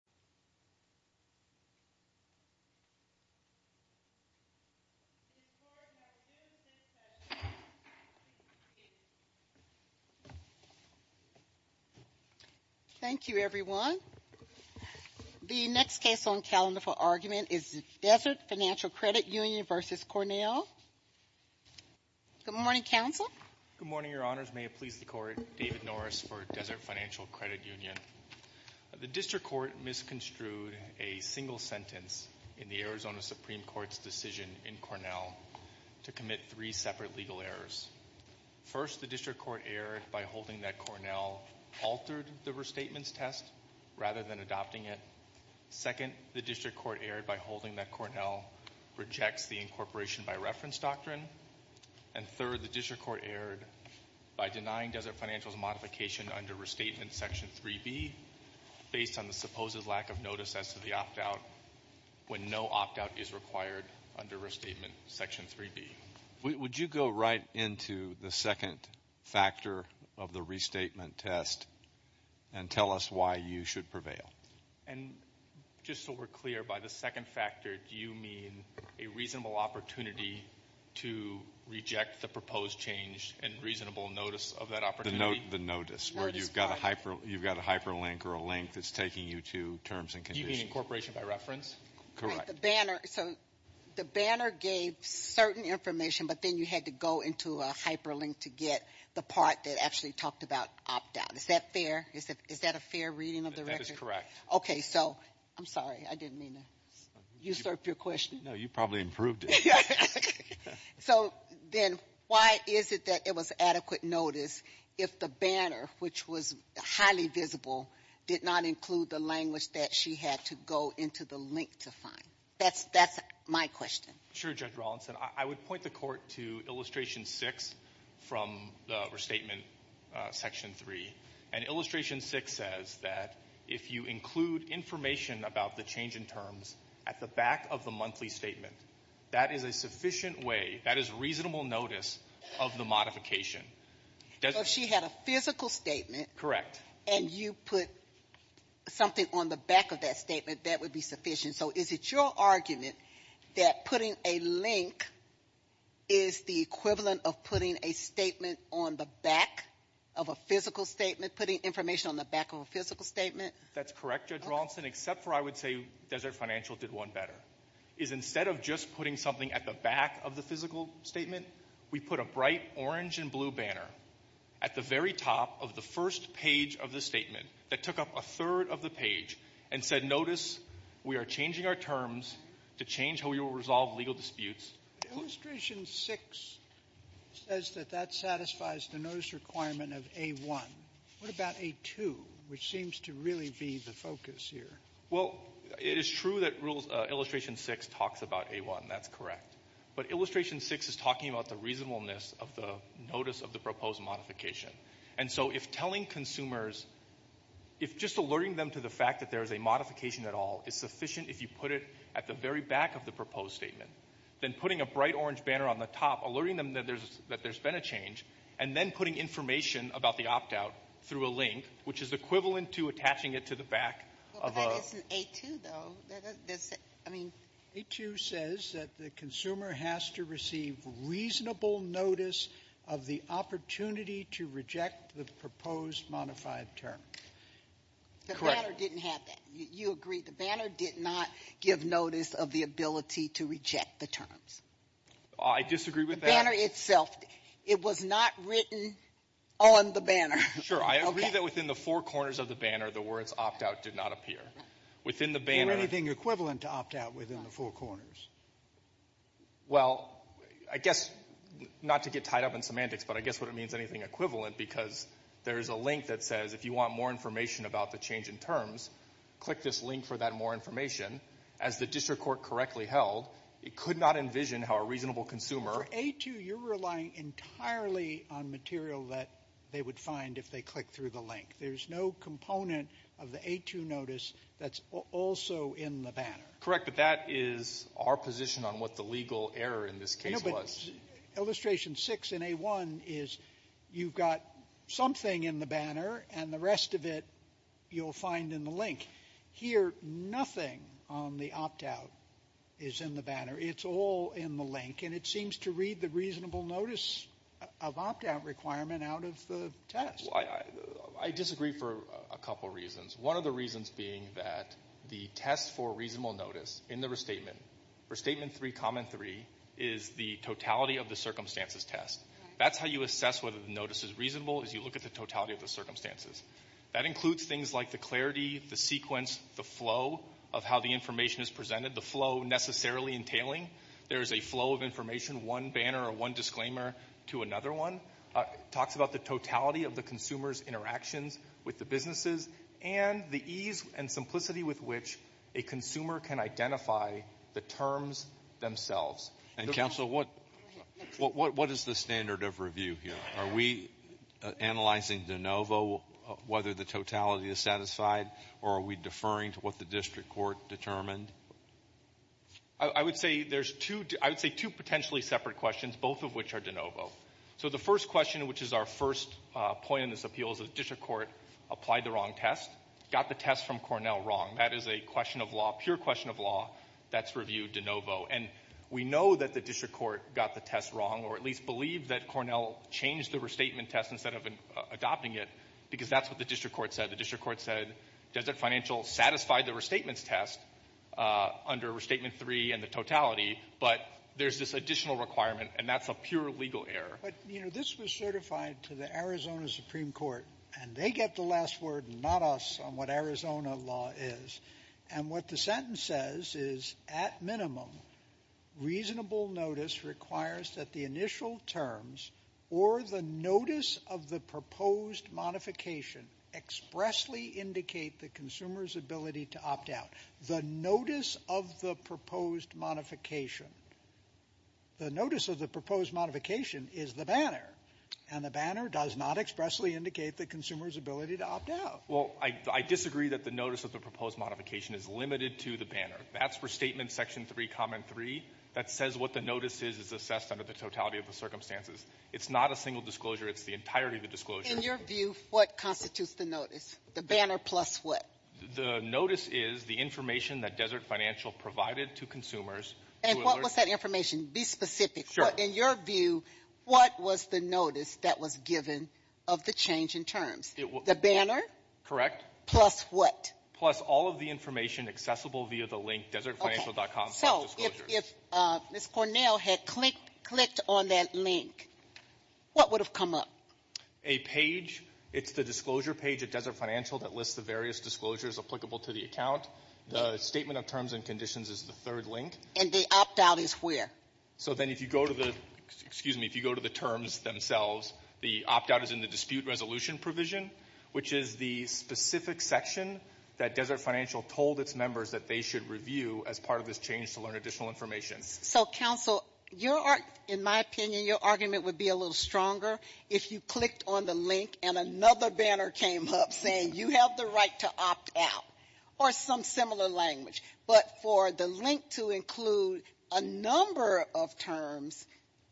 Good morning, Your Honors. May it please the Court, David Norris for Desert Financial Credit a single sentence in the Arizona Supreme Court's decision in Cornell to commit three separate legal errors. First, the District Court erred by holding that Cornell altered the restatements test rather than adopting it. Second, the District Court erred by holding that Cornell rejects the incorporation by reference doctrine. And third, the District Court erred by denying Desert Financial's modification under Restatement Section 3B, based on the supposed lack of notice as to the opt-out, when no opt-out is required under Restatement Section 3B. Would you go right into the second factor of the restatement test and tell us why you should prevail? And just so we're clear, by the second factor, do you mean a reasonable opportunity to reject the proposed change and reasonable notice of that opportunity? The notice, where you've got a hyperlink or a link that's taking you to terms and conditions. Do you mean incorporation by reference? Correct. The banner, so the banner gave certain information, but then you had to go into a hyperlink to get the part that actually talked about opt-out. Is that fair? Is that a fair reading of the record? That is correct. Okay, so, I'm sorry, I didn't mean to usurp your question. No, you probably improved it. So, then, why is it that it was adequate notice if the banner, which was highly visible, did not include the language that she had to go into the link to find? That's my question. Sure, Judge Rawlinson. I would point the Court to Illustration 6 from the restatement Section 3, and Illustration 6 says that if you include information about the change in terms at the back of the monthly statement, that is a sufficient way, that is reasonable notice of the modification. So, if she had a physical statement. Correct. And you put something on the back of that statement, that would be sufficient. So, is it your argument that putting a link is the equivalent of putting a statement on the back of a physical statement, putting information on the back of a physical statement? That's correct, Judge Rawlinson, except for I would say Desert Financial did one better, is instead of just putting something at the back of the physical statement, we put a bright orange and blue banner at the very top of the first page of the statement that took up a third of the page and said, notice, we are changing our terms to change how we will resolve legal disputes. But Illustration 6 says that that satisfies the notice requirement of A1. What about A2, which seems to really be the focus here? Well, it is true that Illustration 6 talks about A1. That's correct. But Illustration 6 is talking about the reasonableness of the notice of the proposed modification. And so, if telling consumers, if just alerting them to the fact that there is a modification at all is sufficient if you put it at the very back of the proposed statement, then putting a bright orange banner on the top, alerting them that there's been a change, and then putting information about the opt-out through a link, which is equivalent to attaching it to the back of a ---- Well, but that isn't A2, though. I mean ---- A2 says that the consumer has to receive reasonable notice of the opportunity to reject the proposed modified term. Correct. The banner didn't have that. You agree. The banner did not give notice of the ability to reject the terms. I disagree with that. The banner itself, it was not written on the banner. Sure. I agree that within the four corners of the banner, the words opt-out did not appear. Within the banner ---- Is there anything equivalent to opt-out within the four corners? Well, I guess, not to get tied up in semantics, but I guess what it means, anything equivalent, because there is a link that says, if you want more information about the change in terms, click this link for that more information. As the district court correctly held, it could not envision how a reasonable consumer ---- For A2, you're relying entirely on material that they would find if they click through the link. There's no component of the A2 notice that's also in the banner. Correct, but that is our position on what the legal error in this case was. No, but illustration six in A1 is you've got something in the banner, and the rest of it you'll find in the link. Here, nothing on the opt-out is in the banner. It's all in the link, and it seems to read the reasonable notice of opt-out requirement out of the test. I disagree for a couple reasons, one of the reasons being that the test for reasonable notice in the restatement, restatement three, comment three, is the totality of the circumstances test. That's how you assess whether the notice is reasonable, is you look at the totality of the circumstances. That includes things like the clarity, the sequence, the flow of how the consumer is feeling. There is a flow of information, one banner or one disclaimer to another one. It talks about the totality of the consumer's interactions with the businesses, and the ease and simplicity with which a consumer can identify the terms themselves. And, counsel, what is the standard of review here? Are we analyzing de novo whether the totality is satisfied, or are we deferring to what the district court determined? I would say there's two, I would say two potentially separate questions, both of which are de novo. So the first question, which is our first point in this appeal, is the district court applied the wrong test, got the test from Cornell wrong. That is a question of law, pure question of law, that's reviewed de novo. And we know that the district court got the test wrong, or at least believe that Cornell changed the restatement test instead of adopting it, because that's what the district court said. The district court said Desert Financial satisfied the restatement test under restatement three and the totality, but there's this additional requirement, and that's a pure legal error. But, you know, this was certified to the Arizona Supreme Court, and they get the last word, not us, on what Arizona law is. And what the sentence says is, at minimum, reasonable notice requires that the initial terms or the notice of the proposed modification expressly indicate the consumer's ability to opt out. The notice of the proposed modification, the notice of the proposed modification is the banner, and the banner does not expressly indicate the consumer's ability to opt out. Well, I disagree that the notice of the proposed modification is limited to the banner. That's for Statement Section 3, Comment 3. That says what the notice is is assessed under the totality of the circumstances. It's not a single disclosure. It's the entirety of the disclosure. In your view, what constitutes the notice? The banner plus what? The notice is the information that Desert Financial provided to consumers. And what was that information? Be specific. In your view, what was the notice that was given of the change in terms? The banner? Correct. Plus what? Plus all of the information accessible via the link desertfinancial.com. So if Ms. Cornell had clicked on that link, what would have come up? A page. It's the disclosure page at Desert Financial that lists the various disclosures applicable to the account. The Statement of Terms and Conditions is the third link. And the opt-out is where? So then if you go to the terms themselves, the opt-out is in the dispute resolution provision, which is the specific section that Desert Financial told its members that they should review as part of this change to learn additional information. So, counsel, your argument, in my opinion, your argument would be a little stronger if you clicked on the link and another banner came up saying you have the right to opt out or some similar language. But for the link to include a number of terms,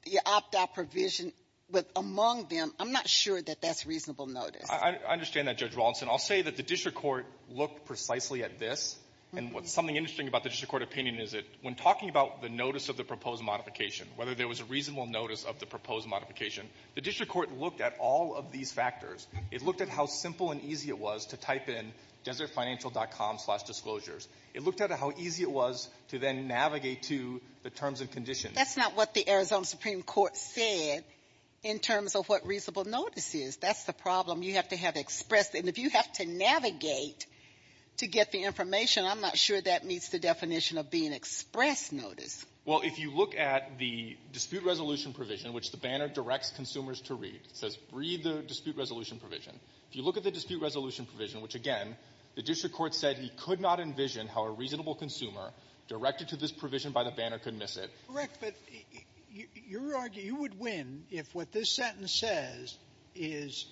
the opt-out provision with among them, I'm not sure that that's reasonable notice. I understand that, Judge Rawlinson. I'll say that the district court looked precisely at this. And something interesting about the district court opinion is that when talking about the notice of the proposed modification, whether there was a reasonable notice of the proposed modification, the district court looked at all of these factors. It looked at how simple and easy it was to type in desertfinancial.com slash disclosures. It looked at how easy it was to then navigate to the terms and conditions. That's not what the Arizona Supreme Court said in terms of what reasonable notice is. That's the problem. You have to have express. And if you have to navigate to get the information, I'm not sure that meets the definition of being express notice. Well, if you look at the dispute resolution provision, which the banner directs consumers to read, it says read the dispute resolution provision. If you look at the dispute resolution provision, which, again, the district court said he could not envision how a reasonable consumer directed to this provision by the banner could miss it. Correct. But your argument, you would win if what this sentence says is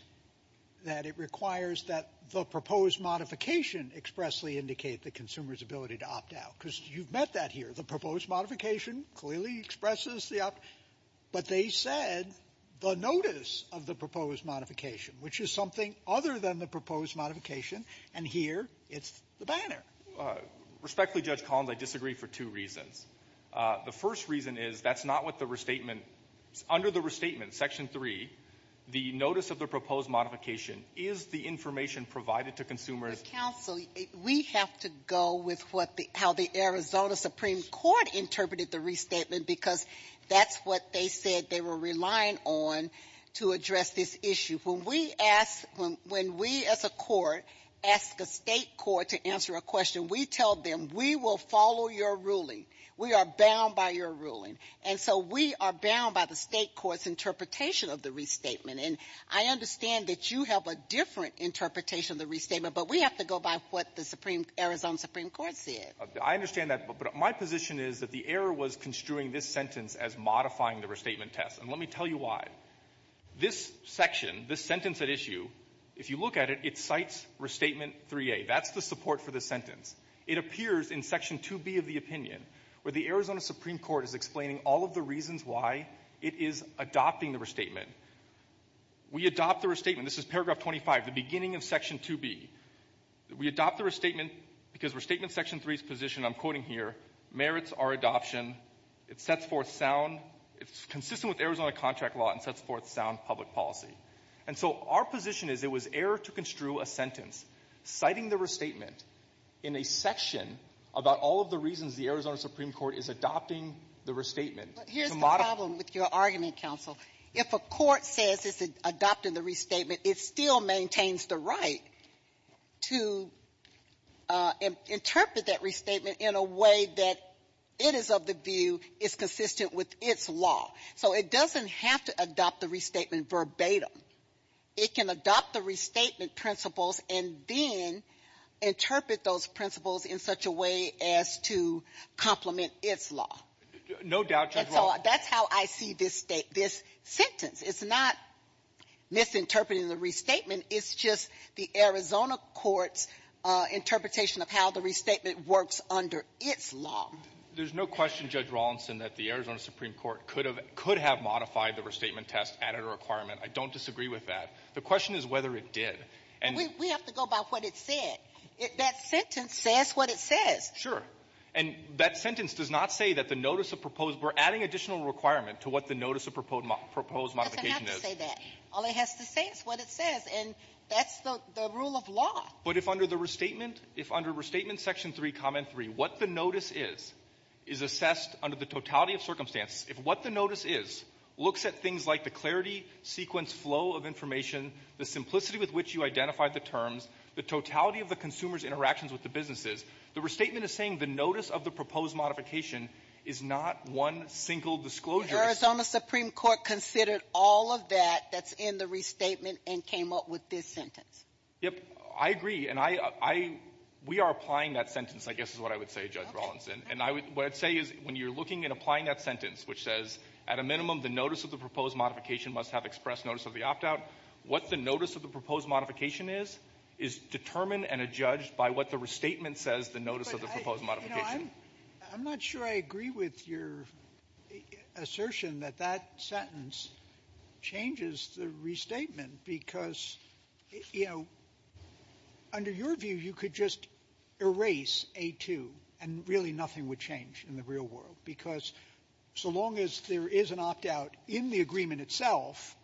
that it requires that the proposed modification expressly indicate the consumer's ability to opt out. Because you've met that here. The proposed modification clearly expresses the opt. But they said the notice of the proposed modification, which is something other than the proposed modification, and here it's the banner. Respectfully, Judge Collins, I disagree for two reasons. The first reason is that's not what the restatement under the restatement, Section 3, the notice of the proposed modification is the information provided to consumers. Counsel, we have to go with what the how the Arizona Supreme Court interpreted the restatement because that's what they said they were relying on to address this issue. When we ask when we as a court ask a state court to answer a question, we tell them we will follow your ruling. We are bound by your ruling. And so we are bound by the state court's interpretation of the restatement. And I understand that you have a different interpretation of the restatement, but we have to go by what the Arizona Supreme Court said. I understand that. But my position is that the error was construing this sentence as modifying the restatement test. And let me tell you why. This section, this sentence at issue, if you look at it, it cites Restatement 3A. That's the support for this sentence. It appears in Section 2B of the opinion where the Arizona Supreme Court is explaining all of the reasons why it is adopting the restatement. We adopt the restatement. This is paragraph 25, the beginning of Section 2B. We adopt the restatement because Restatement Section 3's position, I'm quoting here, merits our adoption. It sets forth sound. It's consistent with Arizona contract law and sets forth sound public policy. And so our position is it was error to construe a sentence citing the restatement in a section about all of the reasons the Arizona Supreme Court is adopting the restatement. But here's the problem with your argument, counsel. If a court says it's adopting the restatement, it still maintains the right to interpret that restatement in a way that it is of the view it's consistent with its law. So it doesn't have to adopt the restatement verbatim. It can adopt the restatement principles and then interpret those principles in such a way as to complement its law. No doubt, Judge Rollins. That's how I see this sentence. It's not misinterpreting the restatement. It's just the Arizona court's interpretation of how the restatement works under its law. There's no question, Judge Rollinson, that the Arizona Supreme Court could have modified the restatement test, added a requirement. I don't disagree with that. The question is whether it did. And we have to go by what it said. That sentence says what it says. Sure. And that sentence does not say that the notice of proposed or adding additional requirement to what the notice of proposed modification is. It doesn't have to say that. All it has to say is what it says. And that's the rule of law. But if under the restatement, if under restatement section 3, comment 3, what the notice is, is assessed under the totality of circumstances, if what the notice is looks at things like the clarity, sequence, flow of information, the simplicity with which you identified the terms, the totality of the consumer's interactions with the businesses, the restatement is saying the notice of the proposed modification is not one single disclosure. The Arizona Supreme Court considered all of that that's in the restatement and came up with this sentence. Yep. I agree. And I — we are applying that sentence, I guess is what I would say, Judge Rollinson. And I would — what I'd say is when you're looking and applying that sentence, which says at a minimum the notice of the proposed modification must have express notice of the opt-out, what the notice of the proposed modification is, is determined and adjudged by what the restatement says the notice of the proposed modification. But, you know, I'm — I'm not sure I agree with your assertion that that sentence changes the restatement because, you know, under your view, you could just erase A2 and really nothing would change in the real world because so long as there is an opt-out in the agreement itself,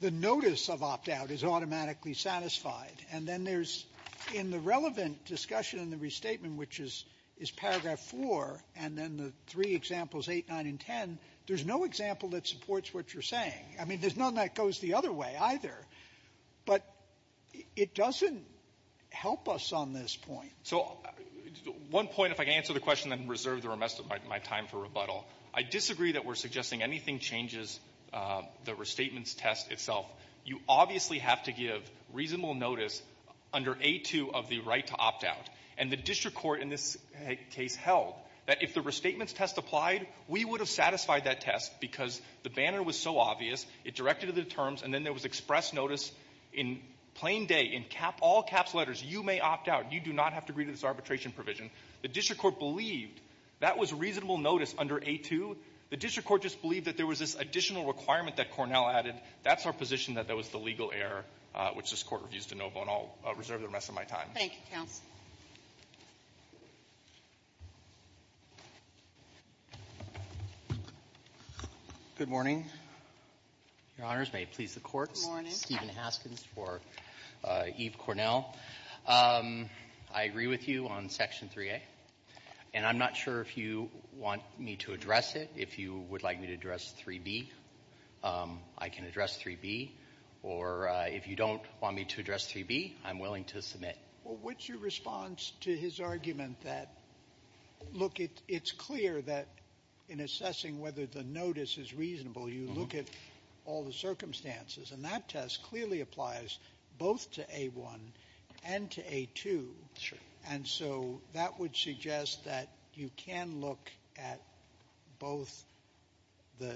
the notice of opt-out is automatically satisfied. And then there's — in the relevant discussion in the restatement, which is — is paragraph 4, and then the three examples, 8, 9, and 10, there's no example that supports what you're saying. I mean, there's none that goes the other way either. But it doesn't help us on this point. So one point, if I can answer the question and reserve the rest of my time for rebuttal, I disagree that we're suggesting anything changes the restatement's test itself. You obviously have to give reasonable notice under A2 of the right to opt-out. And the district court in this case held that if the restatement's test applied, we would have satisfied that test because the banner was so obvious, it directed to the terms, and then there was express notice in plain day, in cap — all-caps letters, you may opt-out. You do not have to agree to this arbitration provision. The district court believed that was reasonable notice under A2. The district court just believed that there was this additional requirement that Cornell added. That's our position that that was the legal error, which this Court reviews de novo. And I'll reserve the rest of my time. Thank you, counsel. Good morning. Your Honors, may it please the Court. Good morning. I'm Steven Haskins for Eve Cornell. I agree with you on Section 3A. And I'm not sure if you want me to address it. If you would like me to address 3B, I can address 3B. Or if you don't want me to address 3B, I'm willing to submit. Well, what's your response to his argument that, look, it's clear that in assessing whether the notice is reasonable, you look at all the circumstances. And that test clearly applies both to A1 and to A2. And so that would suggest that you can look at both the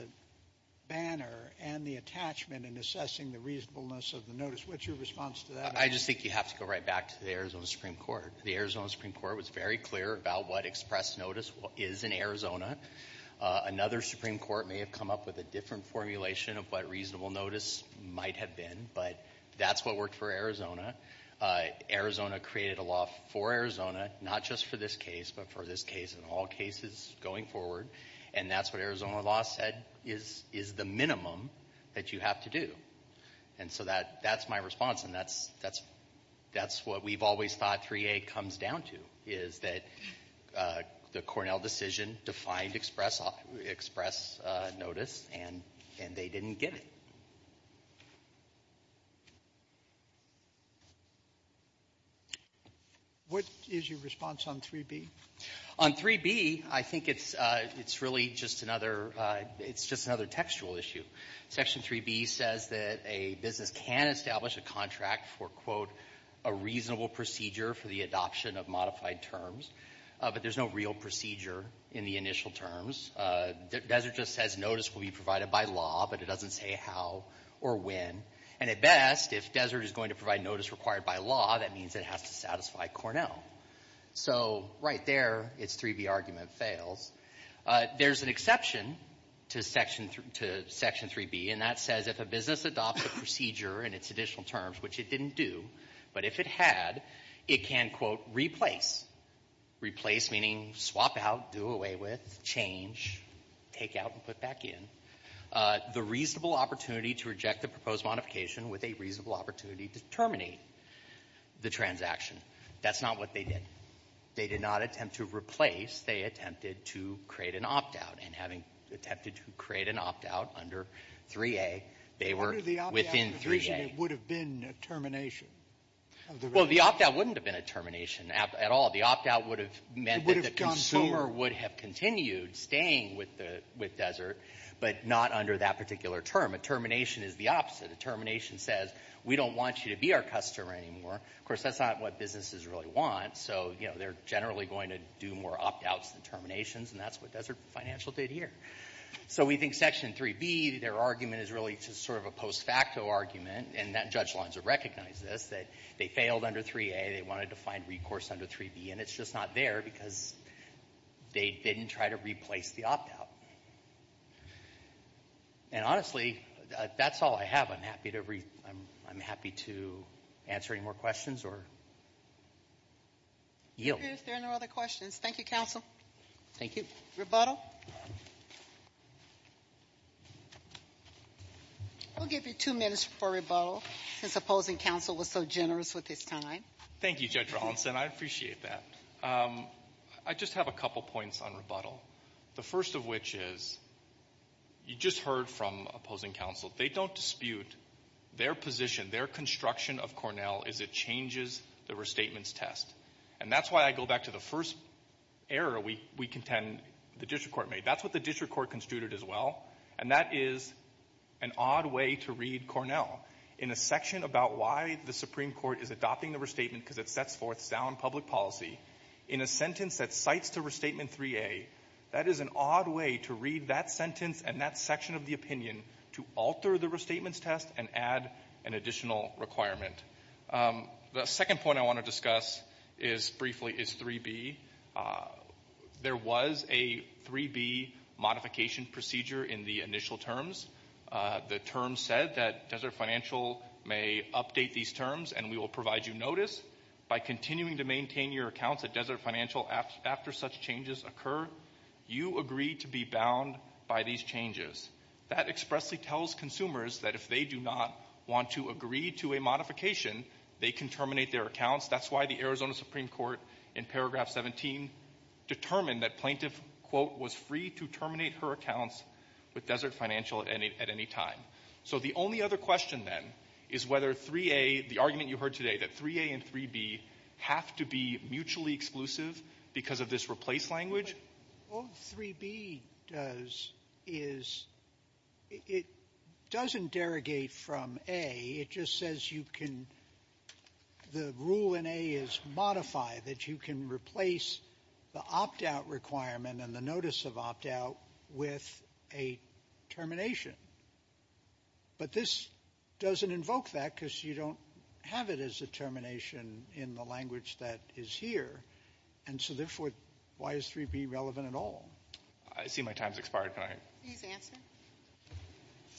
banner and the attachment in assessing the reasonableness of the notice. What's your response to that? I just think you have to go right back to the Arizona Supreme Court. The Arizona Supreme Court was very clear about what express notice is in Arizona. Another Supreme Court may have come up with a different formulation of what reasonable notice might have been. But that's what worked for Arizona. Arizona created a law for Arizona, not just for this case, but for this case and all cases going forward. And that's what Arizona law said is the minimum that you have to do. And so that's my response. And that's what we've always thought 3A comes down to, is that the Cornell decision defined express notice, and they didn't get it. What is your response on 3B? On 3B, I think it's really just another – it's just another textual issue. Section 3B says that a business can establish a contract for, quote, a reasonable procedure for the adoption of modified terms, but there's no real procedure in the initial terms. Desert just says notice will be provided by law, but it doesn't say how or when. And at best, if Desert is going to provide notice required by law, that means it has to satisfy Cornell. So right there, its 3B argument fails. There's an exception to Section 3B, and that says if a business adopts a procedure in its additional terms, which it didn't do, but if it had, it can, quote, replace – replace meaning swap out, do away with, change, take out and put back in – the reasonable opportunity to reject the proposed modification with a reasonable opportunity to terminate the transaction. That's not what they did. They did not attempt to replace. They attempted to create an opt-out. And having attempted to create an opt-out under 3A, they were within 3A. What if the opt-out provision would have been a termination? Well, the opt-out wouldn't have been a termination at all. The opt-out would have meant that the consumer would have continued staying with Desert, but not under that particular term. A termination is the opposite. A termination says we don't want you to be our customer anymore. Of course, that's not what businesses really want. So, you know, they're generally going to do more opt-outs than terminations, and that's what Desert Financial did here. So we think Section 3B, their argument is really just sort of a post-facto argument, and that judge lines have recognized this, that they failed under 3A. They wanted to find recourse under 3B, and it's just not there because they didn't try to replace the opt-out. And honestly, that's all I have. I'm happy to answer any more questions or yield. If there are no other questions, thank you, counsel. Thank you. Rebuttal? We'll give you two minutes for rebuttal since opposing counsel was so generous with his time. Thank you, Judge Rawlinson. I appreciate that. I just have a couple points on rebuttal, the first of which is you just heard from opposing counsel. They don't dispute their position, their construction of Cornell as it changes the restatements test. And that's why I go back to the first error we contend the district court made. That's what the district court constituted as well, and that is an odd way to read Cornell. In a section about why the Supreme Court is adopting the restatement because it sets forth sound public policy, in a sentence that cites to Restatement 3A, that is an odd way to read that sentence and that section of the opinion to alter the restatements test and add an additional requirement. The second point I want to discuss briefly is 3B. There was a 3B modification procedure in the initial terms. The terms said that Desert Financial may update these terms and we will provide you notice. By continuing to maintain your accounts at Desert Financial after such changes occur, you agree to be bound by these changes. That expressly tells consumers that if they do not want to agree to a modification, they can terminate their accounts. That's why the Arizona Supreme Court in paragraph 17 determined that Plaintiff, quote, was free to terminate her accounts with Desert Financial at any time. So the only other question then is whether 3A, the argument you heard today, that 3A and 3B have to be mutually exclusive because of this replace language. All 3B does is it doesn't derogate from A. It just says you can the rule in A is modify, that you can replace the opt-out requirement and the notice of opt-out with a termination. But this doesn't invoke that because you don't have it as a termination in the language that is here. And so, therefore, why is 3B relevant at all? I see my time has expired. Can I? Please answer.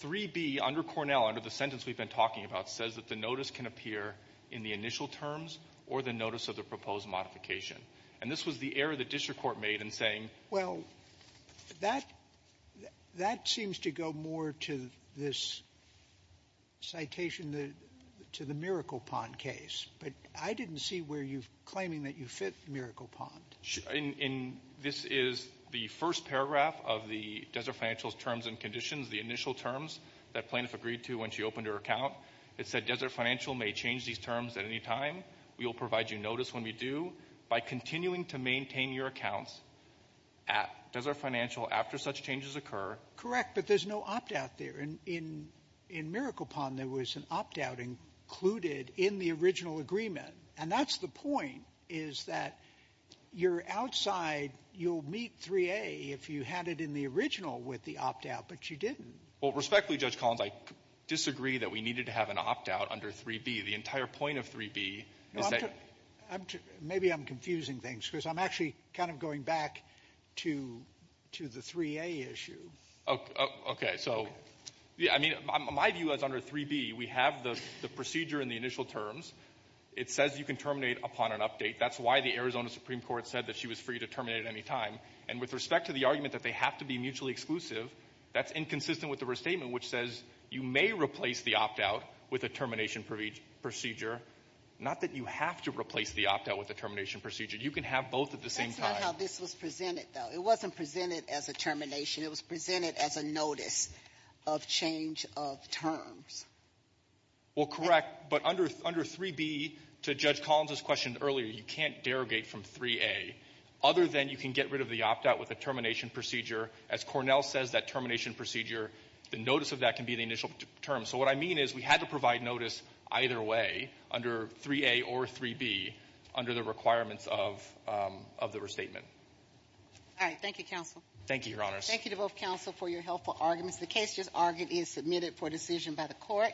3B under Cornell, under the sentence we've been talking about, says that the notice can appear in the initial terms or the notice of the proposed modification. And this was the error the district court made in saying. Well, that seems to go more to this citation to the Miracle Pond case. But I didn't see where you're claiming that you fit Miracle Pond. This is the first paragraph of the Desert Financial's terms and conditions, the initial terms that plaintiff agreed to when she opened her account. It said Desert Financial may change these terms at any time. We will provide you notice when we do. By continuing to maintain your accounts at Desert Financial after such changes occur. Correct, but there's no opt-out there. In Miracle Pond, there was an opt-out included in the original agreement. And that's the point, is that you're outside. You'll meet 3A if you had it in the original with the opt-out, but you didn't. Well, respectfully, Judge Collins, I disagree that we needed to have an opt-out under 3B. The entire point of 3B is that. Maybe I'm confusing things, because I'm actually kind of going back to the 3A issue. Okay. So, I mean, my view is under 3B, we have the procedure in the initial terms. It says you can terminate upon an update. That's why the Arizona Supreme Court said that she was free to terminate at any time. And with respect to the argument that they have to be mutually exclusive, that's inconsistent with the restatement, which says you may replace the opt-out with a termination procedure. Not that you have to replace the opt-out with a termination procedure. You can have both at the same time. That's not how this was presented, though. It wasn't presented as a termination. It was presented as a notice of change of terms. Well, correct. But under 3B, to Judge Collins' question earlier, you can't derogate from 3A, other than you can get rid of the opt-out with a termination procedure. As Cornell says, that termination procedure, the notice of that can be the initial term. So what I mean is we had to provide notice either way, under 3A or 3B, under the requirements of the restatement. All right. Thank you to both counsel for your helpful arguments. The case just argued is submitted for decision by the court.